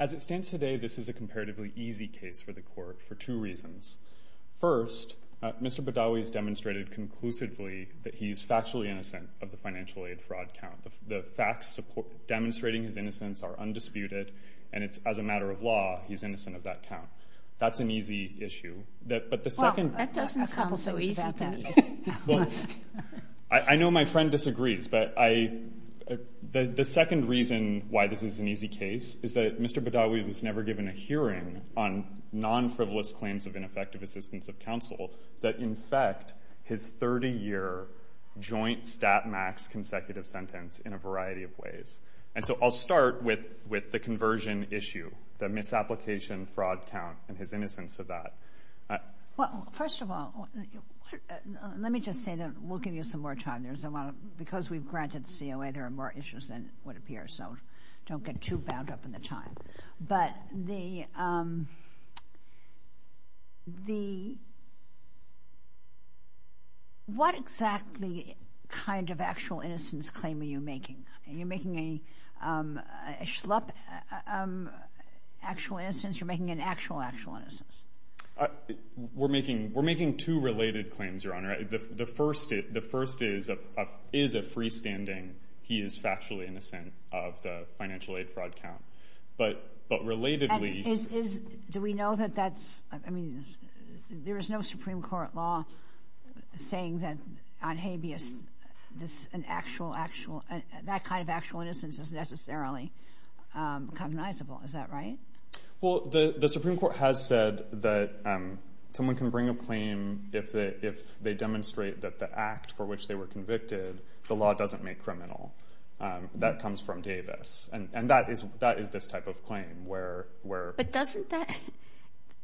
As it stands today, this is a comparatively easy case for the Court for two reasons. First, Mr. Badawi has demonstrated conclusively that he is factually innocent of the financial aid fraud count. The facts demonstrating his innocence are undisputed, and it's as a matter of law he's innocent of that count. That's an easy issue. Well, that doesn't sound so easy to me. I know my friend disagrees, but the second reason why this is an easy case is that Mr. Badawi was never given a hearing on non-frivolous claims of ineffective assistance of counsel that infect his 30-year joint stat max consecutive sentence in a variety of ways. And so, I'll start with the conversion issue, the misapplication fraud count and his innocence of that. Well, first of all, let me just say that we'll give you some more time. Because we've granted COA, there are more issues than would appear, so don't get too bound up in the time. But, what exactly kind of actual innocence claim are you making? You're making a schlup actual innocence, you're making an actual actual innocence? We're making two related claims, Your Honor. The first is a freestanding, he is factually innocent of the financial aid fraud count. But, relatedly... Do we know that that's, I mean, there is no Supreme Court law saying that on habeas, that kind of actual innocence is necessarily cognizable, is that right? Well, the Supreme Court has said that someone can bring a claim if they demonstrate that the act for which they were convicted, the law doesn't make criminal. That comes from Davis. And that is this type of claim where... But doesn't that,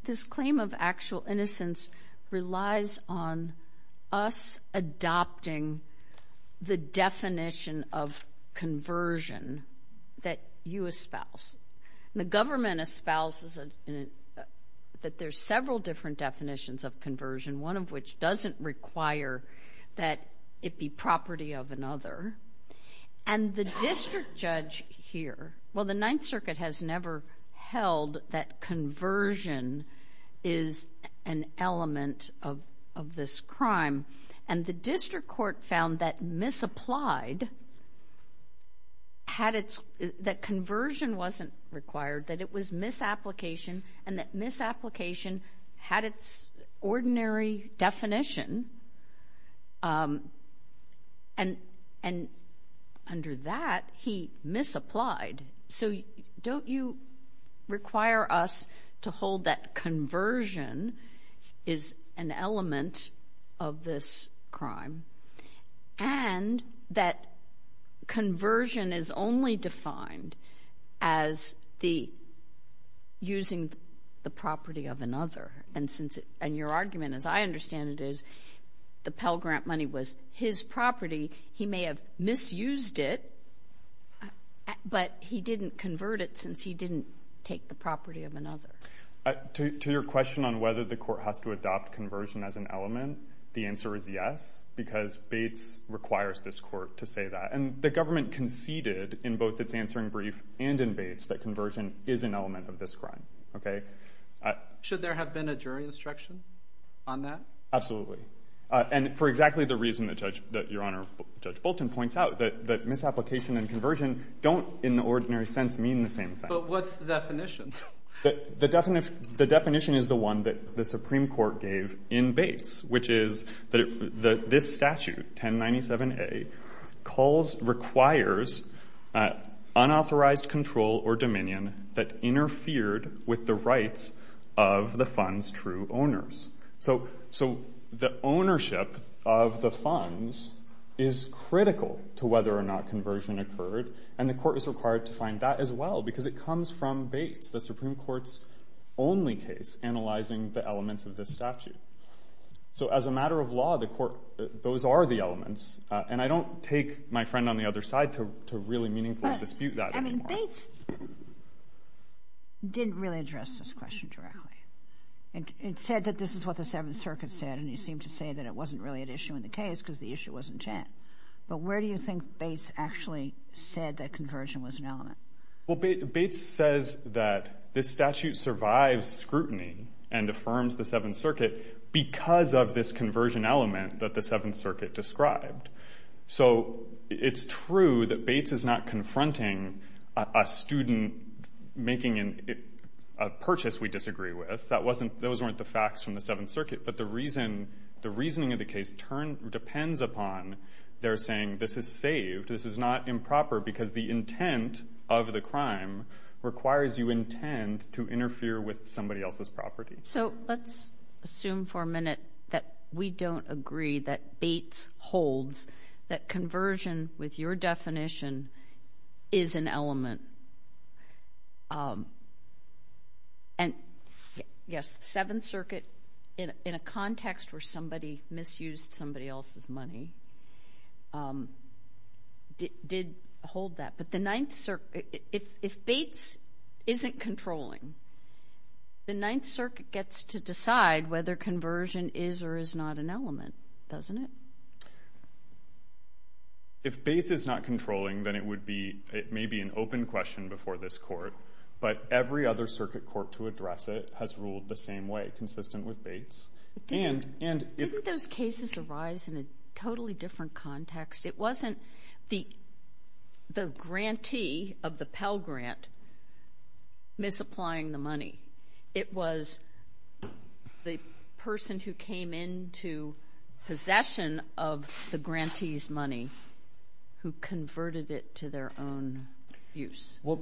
this claim of actual innocence relies on us adopting the definition of conversion that you espouse. The government espouses that there's several different definitions of conversion, one of which doesn't require that it be property of another. And the district judge here, well, the Ninth Circuit has never held that conversion is an element of this crime. And the district court found that misapplied, that conversion wasn't required, that it was misapplication, and that misapplication had its ordinary definition, and under that, he misapplied. So, don't you require us to hold that conversion is an element of this crime, and that conversion is only defined as the using the property of another? And your argument, as I understand it, is the Pell Grant money was his property. He may have misused it, but he didn't convert it since he didn't take the property of another. To your question on whether the court has to adopt conversion as an element, the answer is yes, because Bates requires this court to say that. And the government conceded in both its answering brief and in Bates that conversion is an element of this crime. Okay? Should there have been a jury instruction on that? Absolutely. And for exactly the reason that your Honor, Judge Bolton points out, that misapplication and conversion don't, in the ordinary sense, mean the same thing. But what's the definition? The definition is the one that the Supreme Court gave in Bates, which is that this statute, 1097A, requires unauthorized control or dominion that interfered with the rights of the funds' true owners. So the ownership of the funds is critical to whether or not conversion occurred, and the court is required to find that as well, because it comes from Bates, the Supreme Court's only case analyzing the elements of this statute. So, as a matter of law, the court, those are the elements, and I don't take my friend on the other side to really meaningfully dispute that anymore. But, I mean, Bates didn't really address this question directly. It said that this is what the Seventh Circuit said, and he seemed to say that it wasn't really an issue in the case because the issue was intent. But where do you think Bates actually said that conversion was an element? Well, Bates says that this statute survives scrutiny and affirms the Seventh Circuit because of this conversion element that the Seventh Circuit described. So it's true that Bates is not confronting a student making a purchase we disagree with. That wasn't, those weren't the facts from the Seventh Circuit. But the reason, the reasoning of the case depends upon their saying this is saved, this is not improper, because the intent of the crime requires you intend to interfere with somebody else's property. So let's assume for a minute that we don't agree that Bates holds that conversion with your definition is an element, and yes, the Seventh Circuit, in a context where somebody misused somebody else's money, did hold that. But the Ninth Circuit, if Bates isn't controlling, the Ninth Circuit gets to decide whether conversion is or is not an element, doesn't it? If Bates is not controlling, then it would be, it may be an open question before this court, but every other circuit court to address it has ruled the same way, consistent with Bates. Didn't those cases arise in a totally different context? It wasn't the grantee of the Pell Grant misapplying the money. It was the person who came into possession of the grantee's money who converted it to their own use. Well,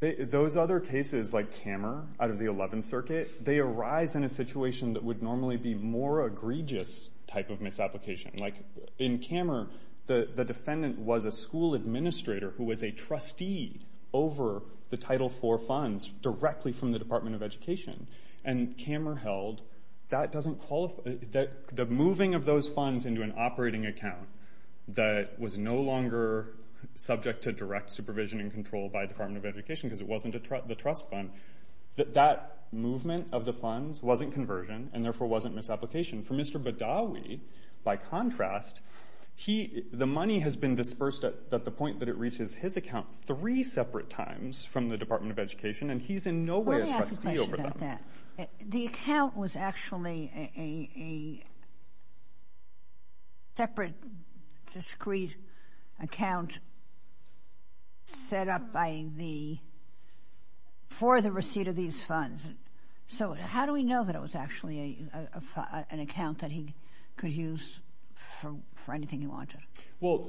those other cases, like Kammer out of the Eleventh Circuit, they arise in a situation that would normally be more egregious type of misapplication. Like in Kammer, the defendant was a school administrator who was a trustee over the Title IV funds directly from the Department of Education, and Kammer held that doesn't qualify, that the moving of those funds into an operating account that was no longer subject to direct supervision and control by Department of Education, because it wasn't the trust fund, that that movement of the funds wasn't conversion, and therefore wasn't misapplication. For Mr. Badawi, by contrast, the money has been dispersed at the point that it reaches his account three separate times from the Department of Education, and he's in no way a trustee over them. Let me ask a question about that. The account was actually a separate, discreet account set up for the receipt of these funds, so how do we know that it was actually an account that he could use for anything he wanted? Well,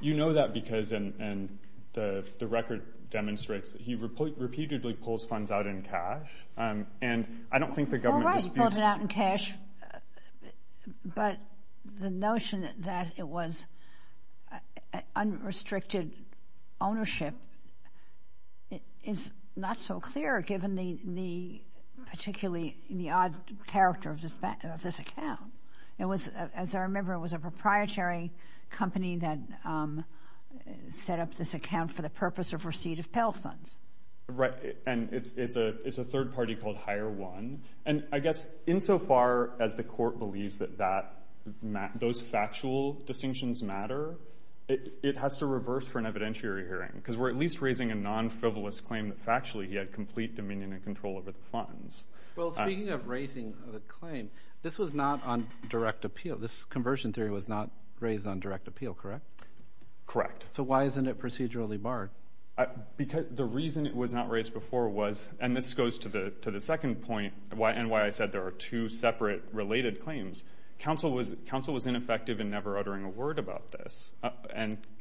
you know that because, and the record demonstrates, he repeatedly pulls funds out in cash, and I don't think the government disputes... Well, right, he pulls it out in cash, but the notion that it was unrestricted ownership is not so clear, given the particularly, the odd character of this account. It was, as I remember, it was a proprietary company that set up this account for the purpose of receipt of Pell funds. Right, and it's a third party called Hire One, and I guess insofar as the court believes that those factual distinctions matter, it has to reverse for an evidentiary hearing, because we're at least raising a non-frivolous claim that factually he had complete dominion and control over the funds. Well, speaking of raising the claim, this was not on direct appeal. This conversion theory was not raised on direct appeal, correct? Correct. So why isn't it procedurally barred? Because the reason it was not raised before was, and this goes to the second point, and why I said there are two separate related claims, counsel was ineffective in never uttering a word about this,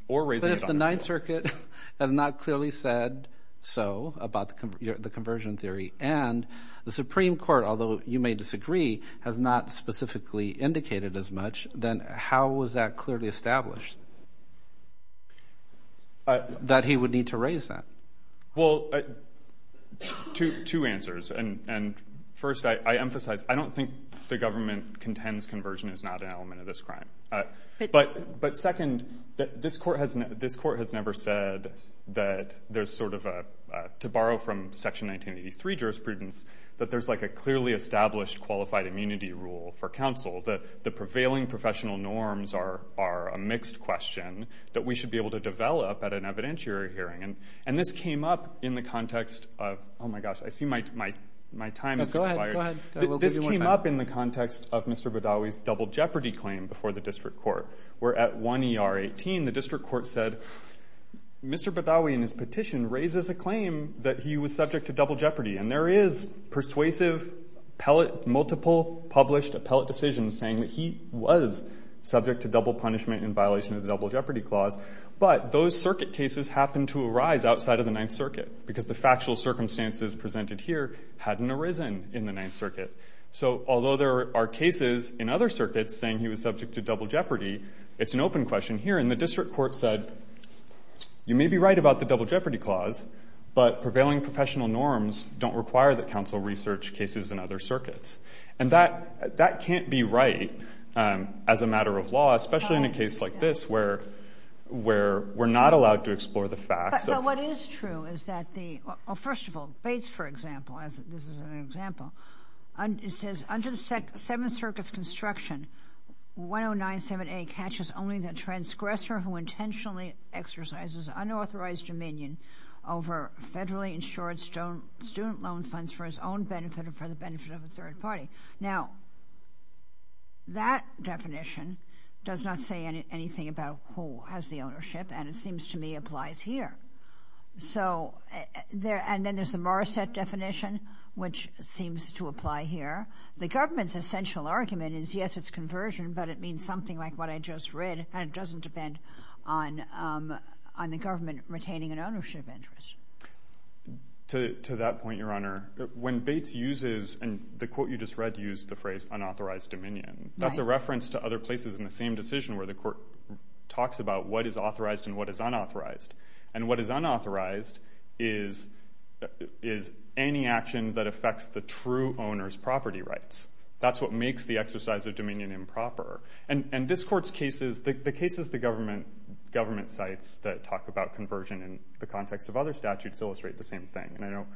or raising it on direct appeal. But if the Ninth Circuit has not clearly said so about the conversion theory, and the Supreme Court, although you may disagree, has not specifically indicated as much, then how was that clearly established? That he would need to raise that? Well, two answers, and first, I emphasize, I don't think the government contends conversion is not an element of this crime, but second, this court has never said that there's sort of a, to borrow from Section 1983 jurisprudence, that there's like a clearly established qualified immunity rule for counsel, that the prevailing professional norms are a mixed question that we should be able to develop at an evidentiary hearing. And this came up in the context of, oh my gosh, I see my time has expired. Go ahead, go ahead. This came up in the context of Mr. Badawi's double jeopardy claim before the district court, where at 1 ER 18, the district court said, Mr. Badawi, in his petition, raises a claim that he was subject to double jeopardy, and there is persuasive, multiple published appellate decisions saying that he was subject to double punishment in violation of the double jeopardy clause, but those circuit cases happened to arise outside of the Ninth Circuit, because the factual circumstances presented here hadn't arisen in the Ninth Circuit. So although there are cases in other circuits saying he was subject to double jeopardy, it's an open question here, and the district court said, you may be right about the double jeopardy, but prevailing professional norms don't require that counsel research cases in other circuits. And that can't be right as a matter of law, especially in a case like this, where we're not allowed to explore the facts. But what is true is that the, first of all, Bates, for example, this is an example, it says under the Seventh Circuit's construction, 1097A catches only the transgressor who intentionally exercises unauthorized dominion over federally insured student loan funds for his own benefit or for the benefit of a third party. Now, that definition does not say anything about who has the ownership, and it seems to me applies here. So there, and then there's the Morrissette definition, which seems to apply here. The government's essential argument is, yes, it's conversion, but it means something like what I just read, and it doesn't depend on the government retaining an ownership interest. To that point, Your Honor, when Bates uses, and the quote you just read used the phrase unauthorized dominion, that's a reference to other places in the same decision where the court talks about what is authorized and what is unauthorized. And what is unauthorized is any action that affects the true owner's property rights. That's what makes the exercise of dominion improper. And this court's cases, the cases the government cites that talk about conversion in the context of other statutes illustrate the same thing, and I know,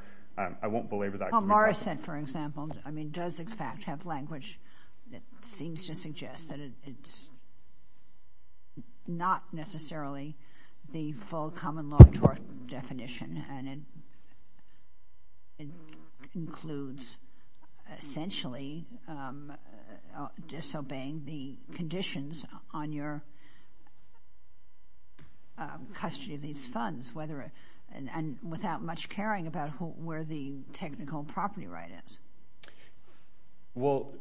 I won't belabor that. Well, Morrissette, for example, I mean, does in fact have language that seems to suggest that it's not necessarily the full common law definition, and it includes essentially disobeying the conditions on your custody of these funds, whether, and without much caring about where the technical property right is. Well,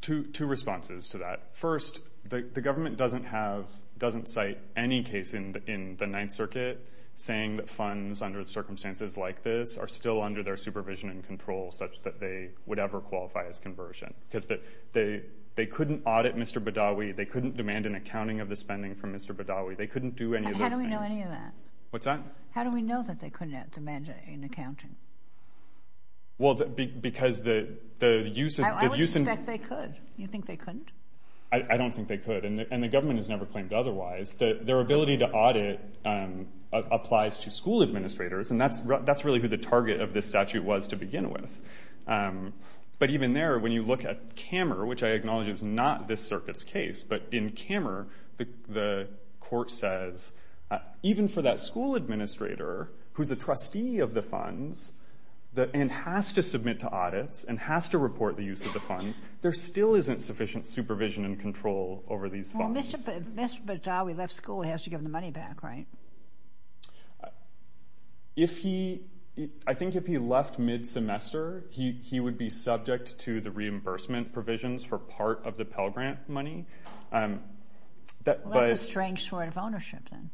two responses to that. First, the government doesn't have, doesn't cite any case in the Ninth Circuit saying that funds under circumstances like this are still under their supervision and control such that they would ever qualify as conversion, because they couldn't audit Mr. Badawi. They couldn't demand an accounting of the spending from Mr. Badawi. They couldn't do any of those things. And how do we know any of that? What's that? How do we know that they couldn't demand an accounting? Well, because the use of the use of I would expect they could. You think they couldn't? I don't think they could, and the government has never claimed otherwise. Their ability to audit applies to school administrators, and that's really who the target of this statute was to begin with. But even there, when you look at Kammer, which I acknowledge is not this circuit's case, but in Kammer, the court says, even for that school administrator, who's a trustee of the funds and has to submit to audits and has to report the use of the funds, there still isn't sufficient supervision and control over these funds. Well, Mr. Badawi left school, he has to give the money back, right? If he, I think if he left mid-semester, he would be subject to the reimbursement provisions for part of the Pell Grant money. Well, that's a strange sort of ownership, then.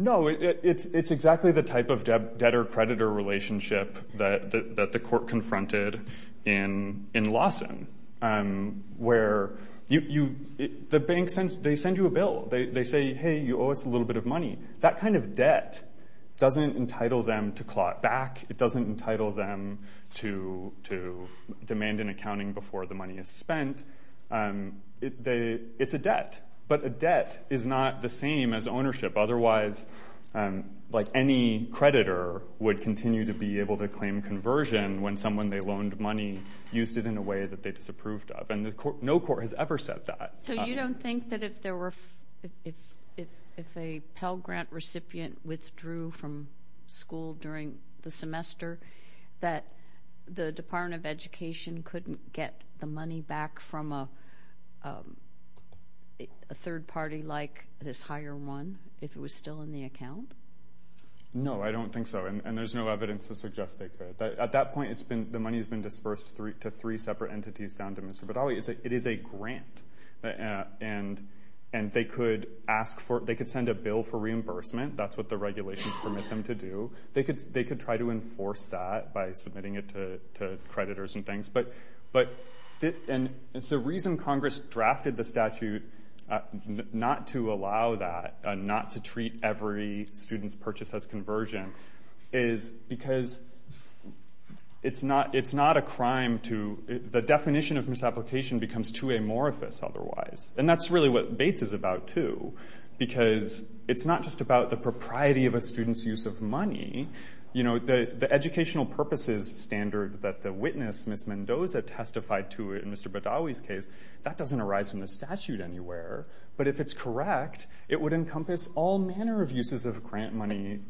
No, it's exactly the type of debtor-creditor relationship that the court confronted in Lawson, where the bank sends, they send you a bill. They say, hey, you owe us a little bit of money. That kind of debt doesn't entitle them to claw it back. It doesn't entitle them to demand an accounting before the money is spent. It's a debt. But a debt is not the same as ownership, otherwise, like any creditor would continue to be able to claim conversion when someone they loaned money used it in a way that they disapproved of. And no court has ever said that. So you don't think that if there were, if a Pell Grant recipient withdrew from school during the semester, that the Department of Education couldn't get the money back from a third party like this higher one, if it was still in the account? No, I don't think so. And there's no evidence to suggest they could. At that point, the money has been disbursed to three separate entities down to Mr. Badawi. It is a grant. And they could ask for, they could send a bill for reimbursement. That's what the regulations permit them to do. They could try to enforce that by submitting it to creditors and things. But the reason Congress drafted the statute not to allow that, not to treat every student's purchase as conversion, is because it's not a crime to, the definition of misapplication becomes too amorphous otherwise. And that's really what Bates is about too, because it's not just about the propriety of a student's use of money. You know, the educational purposes standard that the witness, Ms. Mendoza, testified to in Mr. Badawi's case, that doesn't arise from the statute anywhere. But if it's correct, it would encompass all manner of uses of grant money.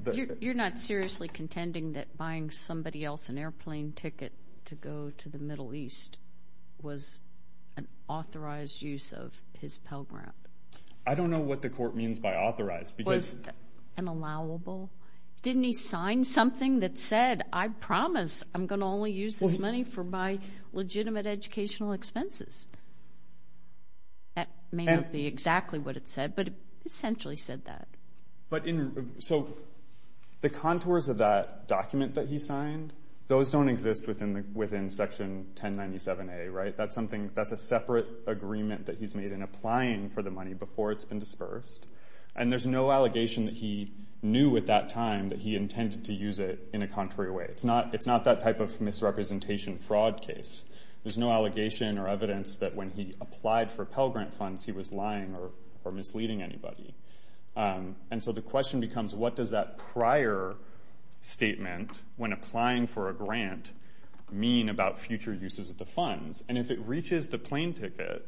You're not seriously contending that buying somebody else an airplane ticket to go to the Middle East was an authorized use of his Pell Grant? I don't know what the court means by authorized, because... Was it an allowable? Didn't he sign something that said, I promise I'm going to only use this money for my legitimate educational expenses? That may not be exactly what it said, but it essentially said that. So, the contours of that document that he signed, those don't exist within Section 1097A, right? That's a separate agreement that he's made in applying for the money before it's been dispersed. And there's no allegation that he knew at that time that he intended to use it in a contrary way. It's not that type of misrepresentation fraud case. There's no allegation or evidence that when he applied for Pell Grant funds, he was lying or misleading anybody. And so, the question becomes, what does that prior statement, when applying for a grant, mean about future uses of the funds? And if it reaches the plane ticket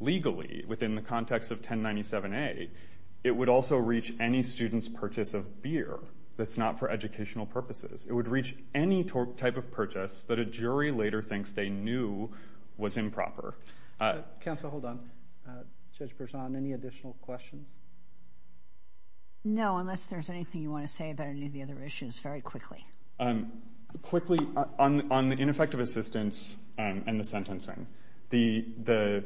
legally, within the context of 1097A, it would also reach any student's purchase of beer that's not for educational purposes. It would reach any type of purchase that a jury later thinks they knew was improper. Counsel, hold on. Judge Berzon, any additional questions? No, unless there's anything you want to say about any of the other issues, very quickly. Quickly, on the ineffective assistance and the sentencing, the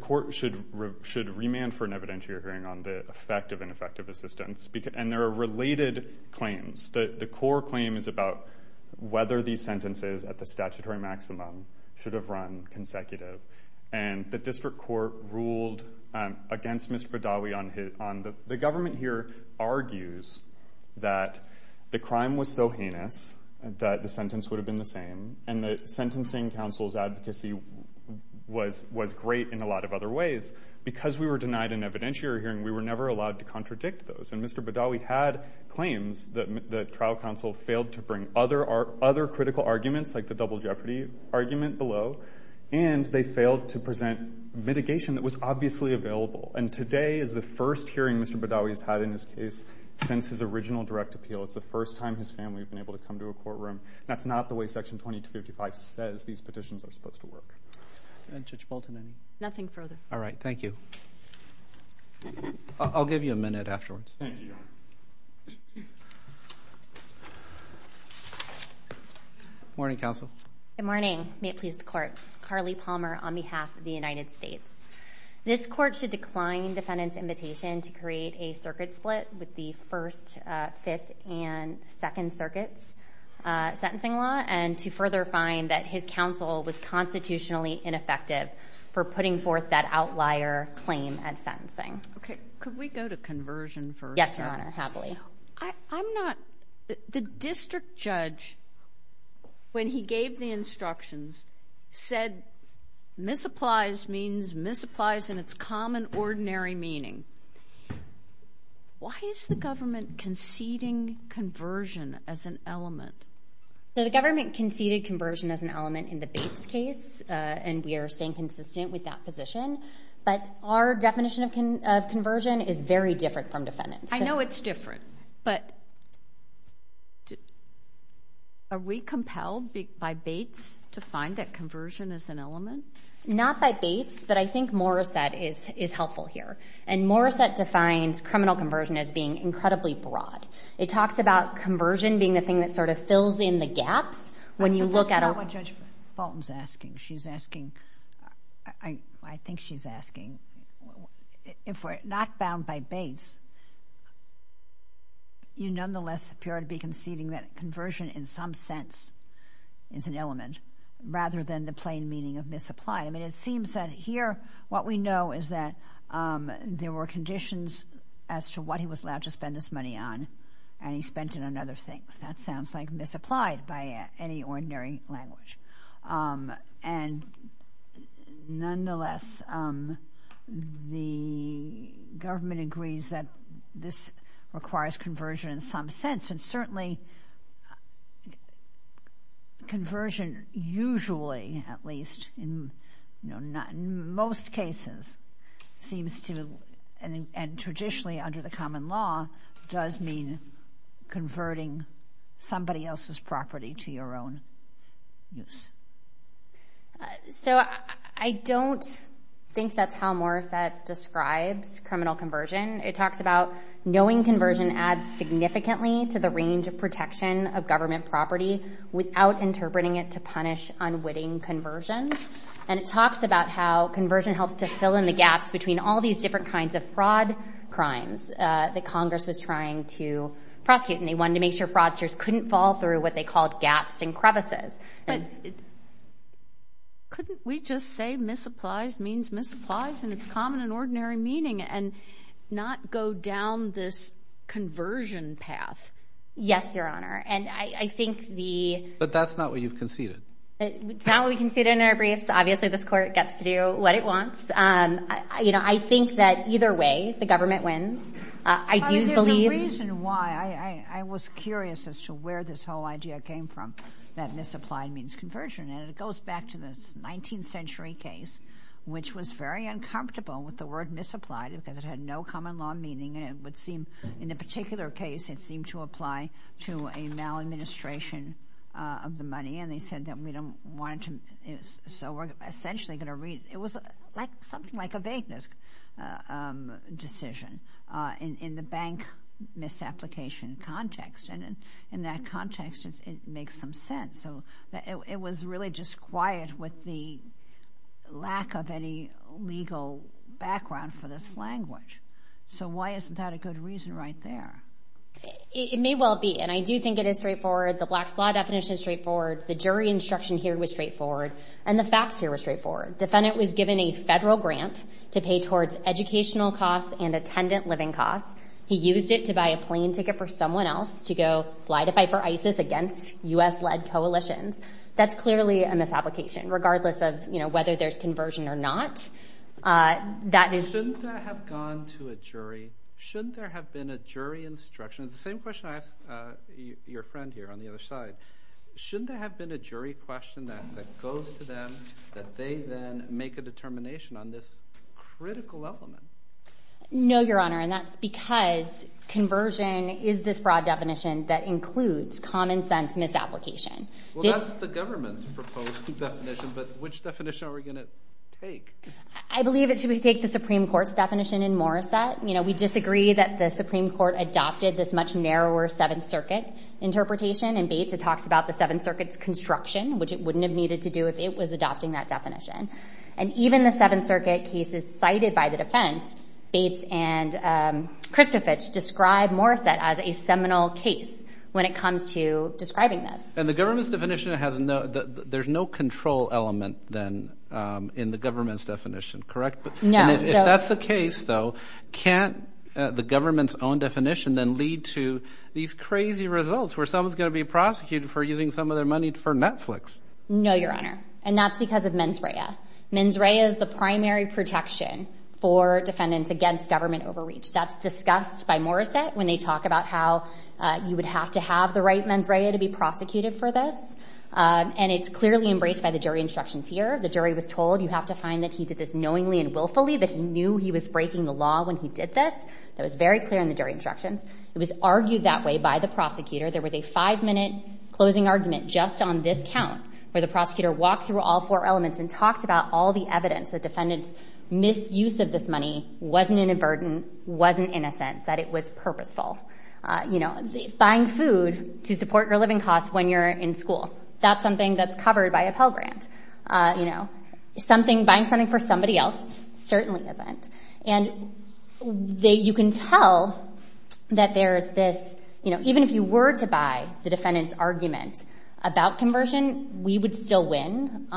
court should remand for an evidentiary hearing on the effect of ineffective assistance, and there are related claims. The core claim is about whether these sentences at the statutory maximum should have run consecutive, and the district court ruled against Mr. Badawi on the—the government here argues that the crime was so heinous that the sentence would have been the same, and the sentencing counsel's advocacy was great in a lot of other ways. Because we were denied an evidentiary hearing, we were never allowed to contradict those, and Mr. Badawi had claims that the trial counsel failed to bring other critical arguments, like the double jeopardy argument below, and they failed to present mitigation that was obviously available. And today is the first hearing Mr. Badawi has had in this case since his original direct appeal. It's the first time his family has been able to come to a courtroom. That's not the way Section 2255 says these petitions are supposed to work. Judge Bolton, any— Nothing further. All right. Thank you. I'll give you a minute afterwards. Thank you. Good morning, counsel. Good morning. May it please the court. Carly Palmer on behalf of the United States. This court should decline defendant's invitation to create a circuit split with the First, Fifth, and Second Circuits sentencing law, and to further find that his counsel was constitutionally ineffective for putting forth that outlier claim at sentencing. Thank you. Thank you. Thank you. Thank you. Thank you. Thank you. Thank you. Thank you. Thank you. Thank you. Thank you, Your Honor. Happily. I'm not—the district judge, when he gave the instructions, said misapplies means misapplies in its common ordinary meaning. Why is the government conceding conversion as an element? The government conceded conversion as an element in the Bates case, and we are staying consistent with that position. But our definition of conversion is very different from defendants. I know it's different, but are we compelled by Bates to find that conversion is an element? Not by Bates, but I think Morrissette is helpful here. And Morrissette defines criminal conversion as being incredibly broad. It talks about conversion being the thing that sort of fills in the gaps when you look at a— But that's not what Judge Bolton's asking. She's asking—I think she's asking, if we're not bound by Bates, you nonetheless appear to be conceding that conversion in some sense is an element rather than the plain meaning of misapply. I mean, it seems that here what we know is that there were conditions as to what he was allowed to spend his money on, and he spent it on other things. That sounds like misapplied by any ordinary language. And nonetheless, the government agrees that this requires conversion in some sense, and certainly conversion usually, at least in most cases, seems to—and traditionally under the common law does mean converting somebody else's property to your own use. So I don't think that's how Morrissette describes criminal conversion. It talks about knowing conversion adds significantly to the range of protection of government property without interpreting it to punish unwitting conversion. And it talks about how conversion helps to fill in the gaps between all these different kinds of fraud crimes that Congress was trying to prosecute, and they wanted to make sure fraudsters couldn't fall through what they called gaps and crevices. But couldn't we just say misapplies means misapplies in its common and ordinary meaning and not go down this conversion path? Yes, Your Honor, and I think the— But that's not what you've conceded. It's not what we conceded in our briefs. Obviously, this Court gets to do what it wants. You know, I think that either way, the government wins. I do believe— But there's a reason why. I was curious as to where this whole idea came from, that misapplied means conversion. And it goes back to the 19th century case, which was very uncomfortable with the word misapplied because it had no common law meaning, and it would seem—in a particular case, it seemed to apply to a maladministration of the money, and they said that we don't want to—so we're essentially going to— It was something like a vagueness decision in the bank misapplication context, and in that context, it makes some sense. So it was really just quiet with the lack of any legal background for this language. So why isn't that a good reason right there? It may well be, and I do think it is straightforward. The Black's Law definition is straightforward. Defendant was given a federal grant to pay towards educational costs and attendant living costs. He used it to buy a plane ticket for someone else to go fly to fight for ISIS against U.S.-led coalitions. That's clearly a misapplication, regardless of whether there's conversion or not. That is— Shouldn't that have gone to a jury? Shouldn't there have been a jury instruction? It's the same question I asked your friend here on the other side. Shouldn't there have been a jury question that goes to them, that they then make a determination on this critical element? No, Your Honor, and that's because conversion is this broad definition that includes common-sense misapplication. Well, that's the government's proposed definition, but which definition are we going to take? I believe that we should take the Supreme Court's definition in Morrissette. We disagree that the Supreme Court adopted this much narrower Seventh Circuit interpretation In Bates, it talks about the Seventh Circuit's construction, which it wouldn't have needed to do if it was adopting that definition. And even the Seventh Circuit cases cited by the defense, Bates and Christovich, describe Morrissette as a seminal case when it comes to describing this. And the government's definition has no—there's no control element then in the government's definition, correct? No. If that's the case, though, can't the government's own definition then lead to these crazy results where someone's going to be prosecuted for using some of their money for Netflix? No, Your Honor, and that's because of mens rea. Mens rea is the primary protection for defendants against government overreach. That's discussed by Morrissette when they talk about how you would have to have the right mens rea to be prosecuted for this. And it's clearly embraced by the jury instructions here. The jury was told, you have to find that he did this knowingly and willfully, that he knew he was breaking the law when he did this. That was very clear in the jury instructions. It was argued that way by the prosecutor. There was a five-minute closing argument just on this count where the prosecutor walked through all four elements and talked about all the evidence that defendants' misuse of this money wasn't an avertant, wasn't innocent, that it was purposeful. Buying food to support your living costs when you're in school, that's something that's covered by a Pell Grant. Buying something for somebody else certainly isn't. And you can tell that there's this, you know, even if you were to buy the defendant's argument about conversion, we would still win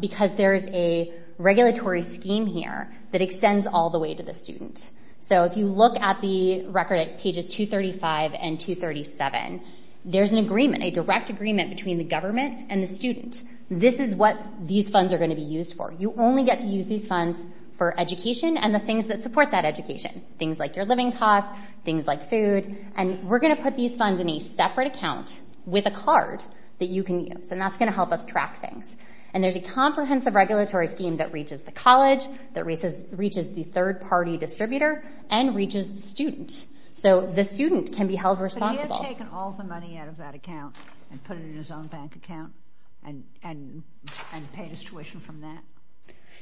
because there is a regulatory scheme here that extends all the way to the student. So if you look at the record at pages 235 and 237, there's an agreement, a direct agreement between the government and the student. This is what these funds are going to be used for. You only get to use these funds for education and the things that support that education. Things like your living costs, things like food. And we're going to put these funds in a separate account with a card that you can use. And that's going to help us track things. And there's a comprehensive regulatory scheme that reaches the college, that reaches the third-party distributor, and reaches the student. So the student can be held responsible. But he had taken all the money out of that account and put it in his own bank account and paid his tuition from that?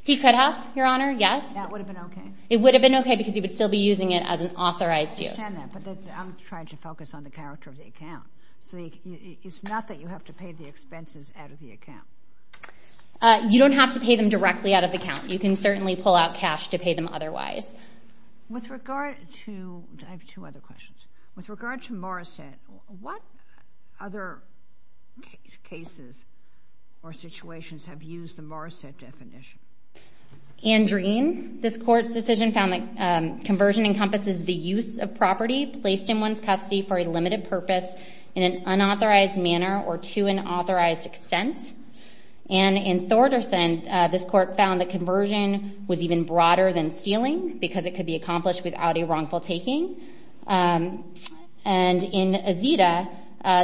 He could have, Your Honor, yes. That would have been okay? It would have been okay because he would still be using it as an authorized use. I understand that, but I'm trying to focus on the character of the account. So it's not that you have to pay the expenses out of the account. You don't have to pay them directly out of the account. You can certainly pull out cash to pay them otherwise. With regard to... I have two other questions. With regard to Morrissette, what other cases or situations have used the Morrissette definition? Andreen, this court's decision found that conversion encompasses the use of property placed in one's custody for a limited purpose in an unauthorized manner or to an authorized extent. And in Thorderson, this court found that conversion was even broader than stealing because it could be accomplished without a wrongful taking. And in Azita,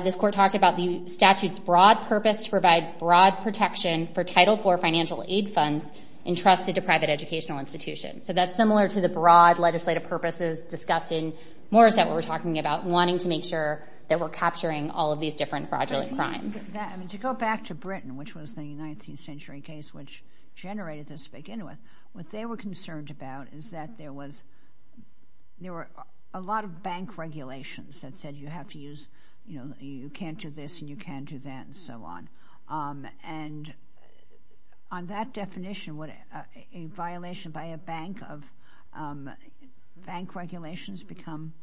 this court talked about the statute's broad purpose to provide broad protection for Title IV financial aid funds entrusted to private educational institutions. So that's similar to the broad legislative purposes discussed in Morrissette we were talking about, wanting to make sure that we're capturing all of these different fraudulent crimes. To go back to Britain, which was the 19th century case which generated this to begin with, what they were concerned about is that there were a lot of bank regulations that said you have to use, you know, you can't do this and you can't do that and so on. And on that definition, would a violation by a bank of bank regulations become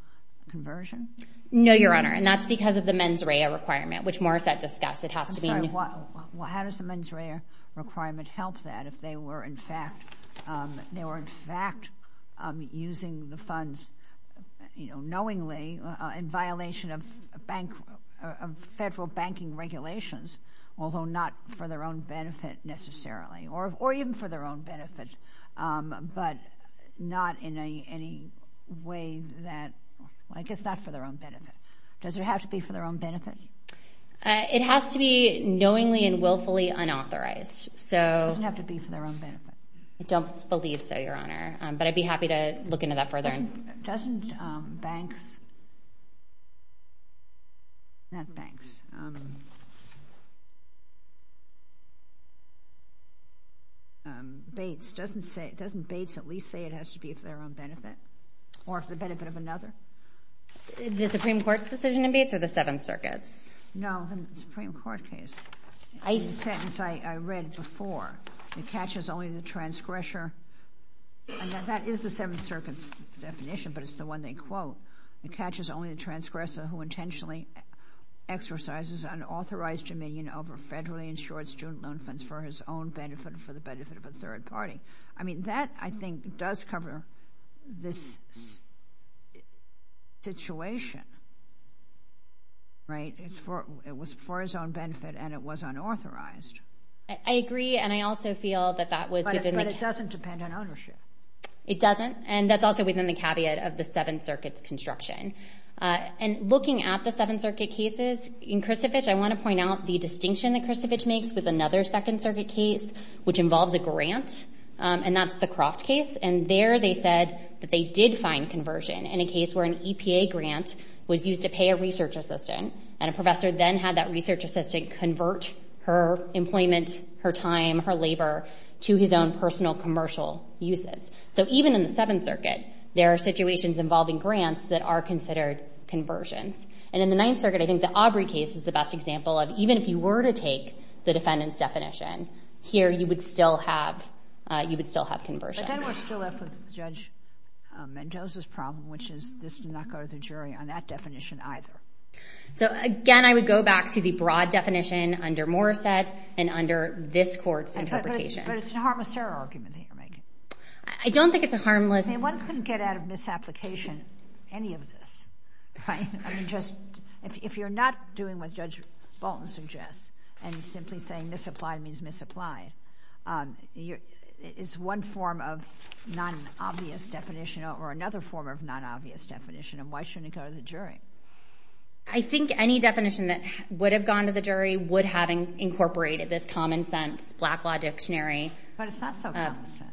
conversion? No, Your Honor. And that's because of the mens rea requirement, which Morrissette discussed. It has to be... I'm sorry. How does the mens rea requirement help that if they were in fact, they were in fact using the funds, you know, knowingly in violation of bank, of federal banking regulations, although not for their own benefit necessarily, or even for their own benefit, but not in any way that, I guess not for their own benefit. Does it have to be for their own benefit? It has to be knowingly and willfully unauthorized. So... It doesn't have to be for their own benefit. I don't believe so, Your Honor. But I'd be happy to look into that further. Doesn't banks... Not banks. Bates, doesn't Bates at least say it has to be for their own benefit? Or for the benefit of another? The Supreme Court's decision in Bates or the Seventh Circuit's? No, the Supreme Court case. It's a sentence I read before. It catches only the transgressor... That is the Seventh Circuit's definition, but it's the one they quote. It catches only the transgressor who intentionally exercises unauthorized dominion over federally insured student loan funds for his own benefit, for the benefit of a third party. I mean, that, I think, does cover this situation. Right? It was for his own benefit, and it was unauthorized. I agree, and I also feel that that was within the... But it doesn't depend on ownership. It doesn't. And that's also within the caveat of the Seventh Circuit's construction. And looking at the Seventh Circuit cases, in Christovich, I want to point out the distinction that Christovich makes with another Second Circuit case, which involves a grant. And that's the Croft case. And there they said that they did find conversion in a case where an EPA grant was used to pay a research assistant, and a professor then had that research assistant convert her employment, her time, her labor to his own personal commercial uses. So even in the Seventh Circuit, there are situations involving grants that are considered conversions. And in the Ninth Circuit, I think the Aubrey case is the best example of even if you were to take the defendant's definition, here you would still have conversion. But then we're still left with Judge Mendoza's problem, which is this did not go to the jury on that definition either. So again, I would go back to the broad definition under Morissette and under this court's interpretation. But it's a harmless error argument that you're making. I don't think it's a harmless... I mean, one couldn't get out of misapplication any of this, right? If you're not doing what Judge Bolton suggests, and simply saying misapplied means misapplied, it's one form of non-obvious definition or another form of non-obvious definition, and why shouldn't it go to the jury? I think any definition that would have gone to the jury would have incorporated this common sense black law dictionary. But it's not so common sense.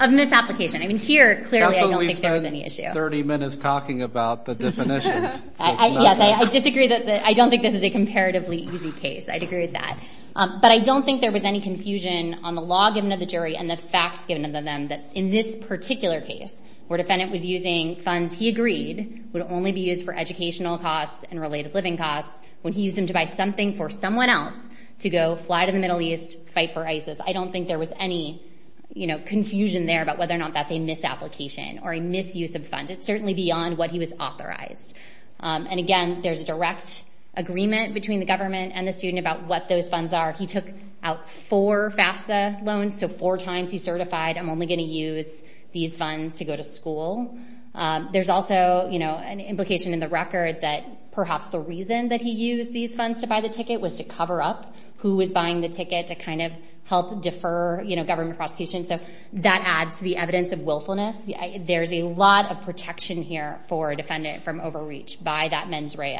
Of misapplication. I mean, here, clearly, I don't think there was any issue. 30 minutes talking about the definition. Yes, I disagree that... I don't think this is a comparatively easy case. I'd agree with that. But I don't think there was any confusion on the law given to the jury and the facts given to them that in this particular case, where defendant was using funds he agreed would only be used for educational costs and related living costs, when he used them to buy something for someone else to go fly to the Middle East, fight for ISIS. I don't think there was any confusion there about whether or not that's a misapplication or a misuse of funds. It's certainly beyond what he was authorized. And again, there's a direct agreement between the government and the student about what those funds are. He took out four FAFSA loans. So four times he certified, I'm only going to use these funds to go to school. There's also an implication in the record that perhaps the reason that he used these funds to buy the ticket was to cover up who was buying the ticket to kind of help defer government prosecution. So that adds to the evidence of willfulness. There's a lot of protection here for a defendant from overreach by that mens rea.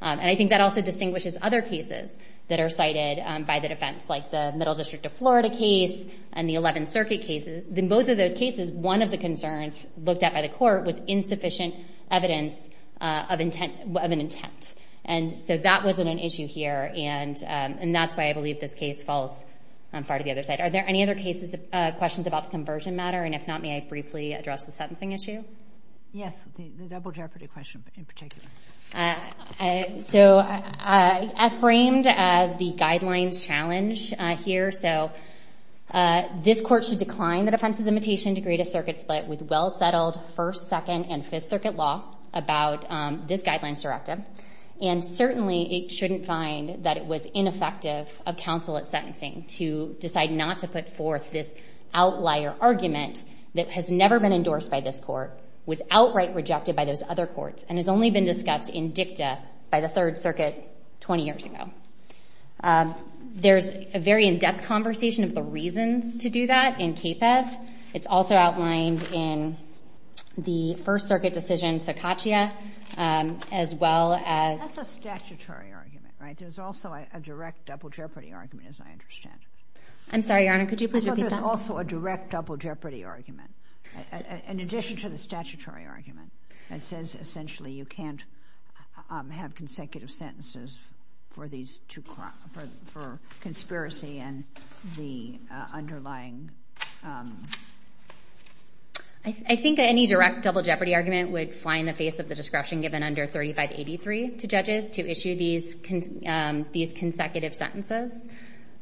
And I think that also distinguishes other cases that are cited by the defense, like the Middle District of Florida case and the 11th Circuit cases. In both of those cases, one of the concerns looked at by the court was insufficient evidence of an intent. And so that wasn't an issue here. And that's why I believe this case falls far to the other side. Are there any other questions about the conversion matter? And if not, may I briefly address the sentencing issue? Yes, the double jeopardy question in particular. So I framed as the guidelines challenge here. So this court should decline the defense's imitation to grade a circuit split with well settled First, Second, and Fifth Circuit law about this guidelines directive. And certainly it shouldn't find that it was ineffective of counsel at sentencing to decide not to put forth this outlier argument that has never been endorsed by this court, was outright rejected by those other courts, and has only been discussed in dicta by the Third Circuit 20 years ago. There's a very in-depth conversation of the reasons to do that in CAPEF. It's also outlined in the First Circuit decision, Secatia, as well as— That's a statutory argument, right? There's also a direct double jeopardy argument, as I understand. I'm sorry, Your Honor. Could you please repeat that? There's also a direct double jeopardy argument. In addition to the statutory argument, it says essentially you can't have consecutive sentences for conspiracy and the underlying— I think any direct double jeopardy argument would fly in the face of the discretion given under 3583 to judges to issue these consecutive sentences.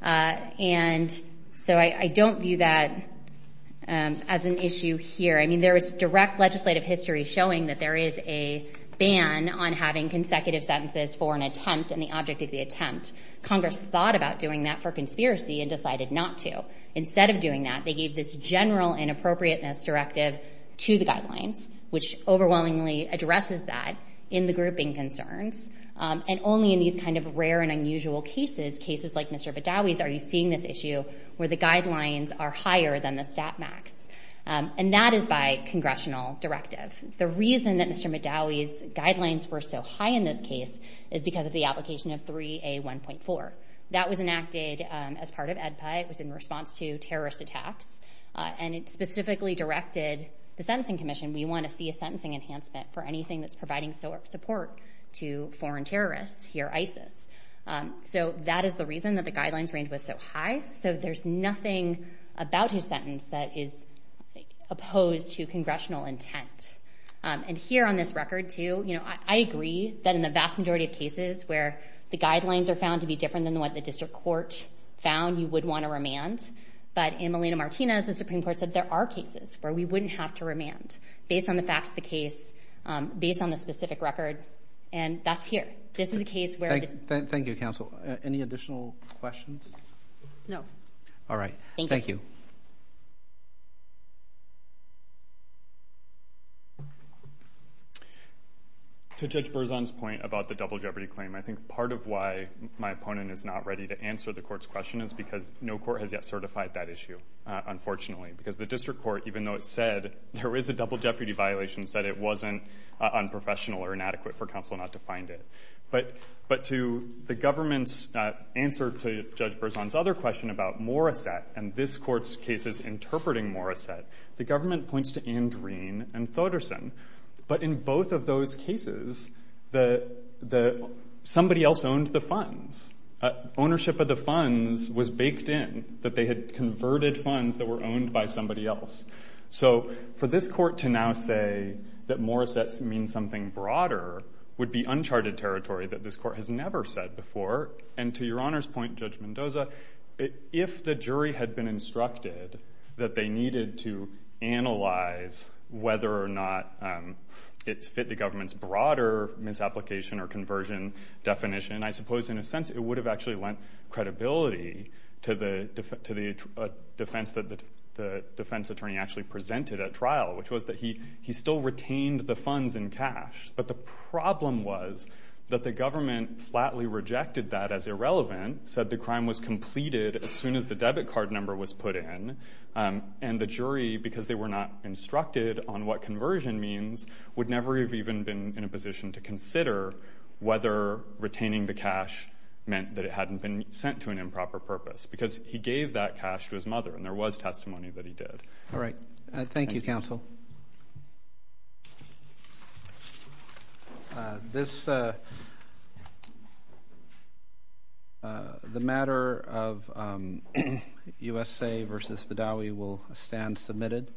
And so I don't view that as an issue here. I mean, there is direct legislative history showing that there is a ban on having consecutive sentences for an attempt and the object of the attempt. Congress thought about doing that for conspiracy and decided not to. Instead of doing that, they gave this general inappropriateness directive to the guidelines, which overwhelmingly addresses that in the grouping concerns, and only in these kind of rare and unusual cases, cases like Mr. Badawi's, are you seeing this issue where the guidelines are higher than the stat max. And that is by congressional directive. The reason that Mr. Badawi's guidelines were so high in this case is because of the application of 3A1.4. That was enacted as part of AEDPA. It was in response to terrorist attacks, and it specifically directed the Sentencing Commission, we want to see a sentencing enhancement for anything that's providing support to foreign terrorists, hear ISIS. So that is the reason that the guidelines range was so high. So there's nothing about his sentence that is opposed to congressional intent. And here on this record, too, I agree that in the vast majority of cases where the guidelines are found to be different than what the district court found, you would want to remand. But in Melina Martinez, the Supreme Court said there are cases where we wouldn't have to remand based on the facts of the case, based on the specific record. And that's here. This is a case where... Thank you, counsel. Any additional questions? No. All right. Thank you. To Judge Berzon's point about the double jeopardy claim, I think part of why my opponent is not ready to answer the court's question is because no court has yet certified that issue, unfortunately. Because the district court, even though it said there is a double jeopardy violation, said it wasn't unprofessional or inadequate for counsel not to find it. But to the government's answer to Judge Berzon's other question about Morissette and this court's cases interpreting Morissette, the government points to Andreen and Thoderson. But in both of those cases, somebody else owned the funds. Ownership of the funds was baked in, that they had converted funds that were owned by somebody else. So for this court to now say that Morissette means something broader would be uncharted territory that this court has never said before. And to your Honor's point, Judge Mendoza, if the jury had been instructed that they needed to analyze whether or not it fit the government's broader misapplication or conversion definition, I suppose, in a sense, it would have actually lent credibility to the defense attorney actually presented at trial, which was that he still retained the funds in cash. But the problem was that the government flatly rejected that as irrelevant, said the crime was completed as soon as the debit card number was put in. And the jury, because they were not instructed on what conversion means, would never have even been in a position to consider whether retaining the cash meant that it hadn't been sent to an improper purpose. Because he gave that cash to his mother, and there was testimony that he did. All right. Thank you, Counsel. This—the matter of USA v. Vidawi will stand submitted.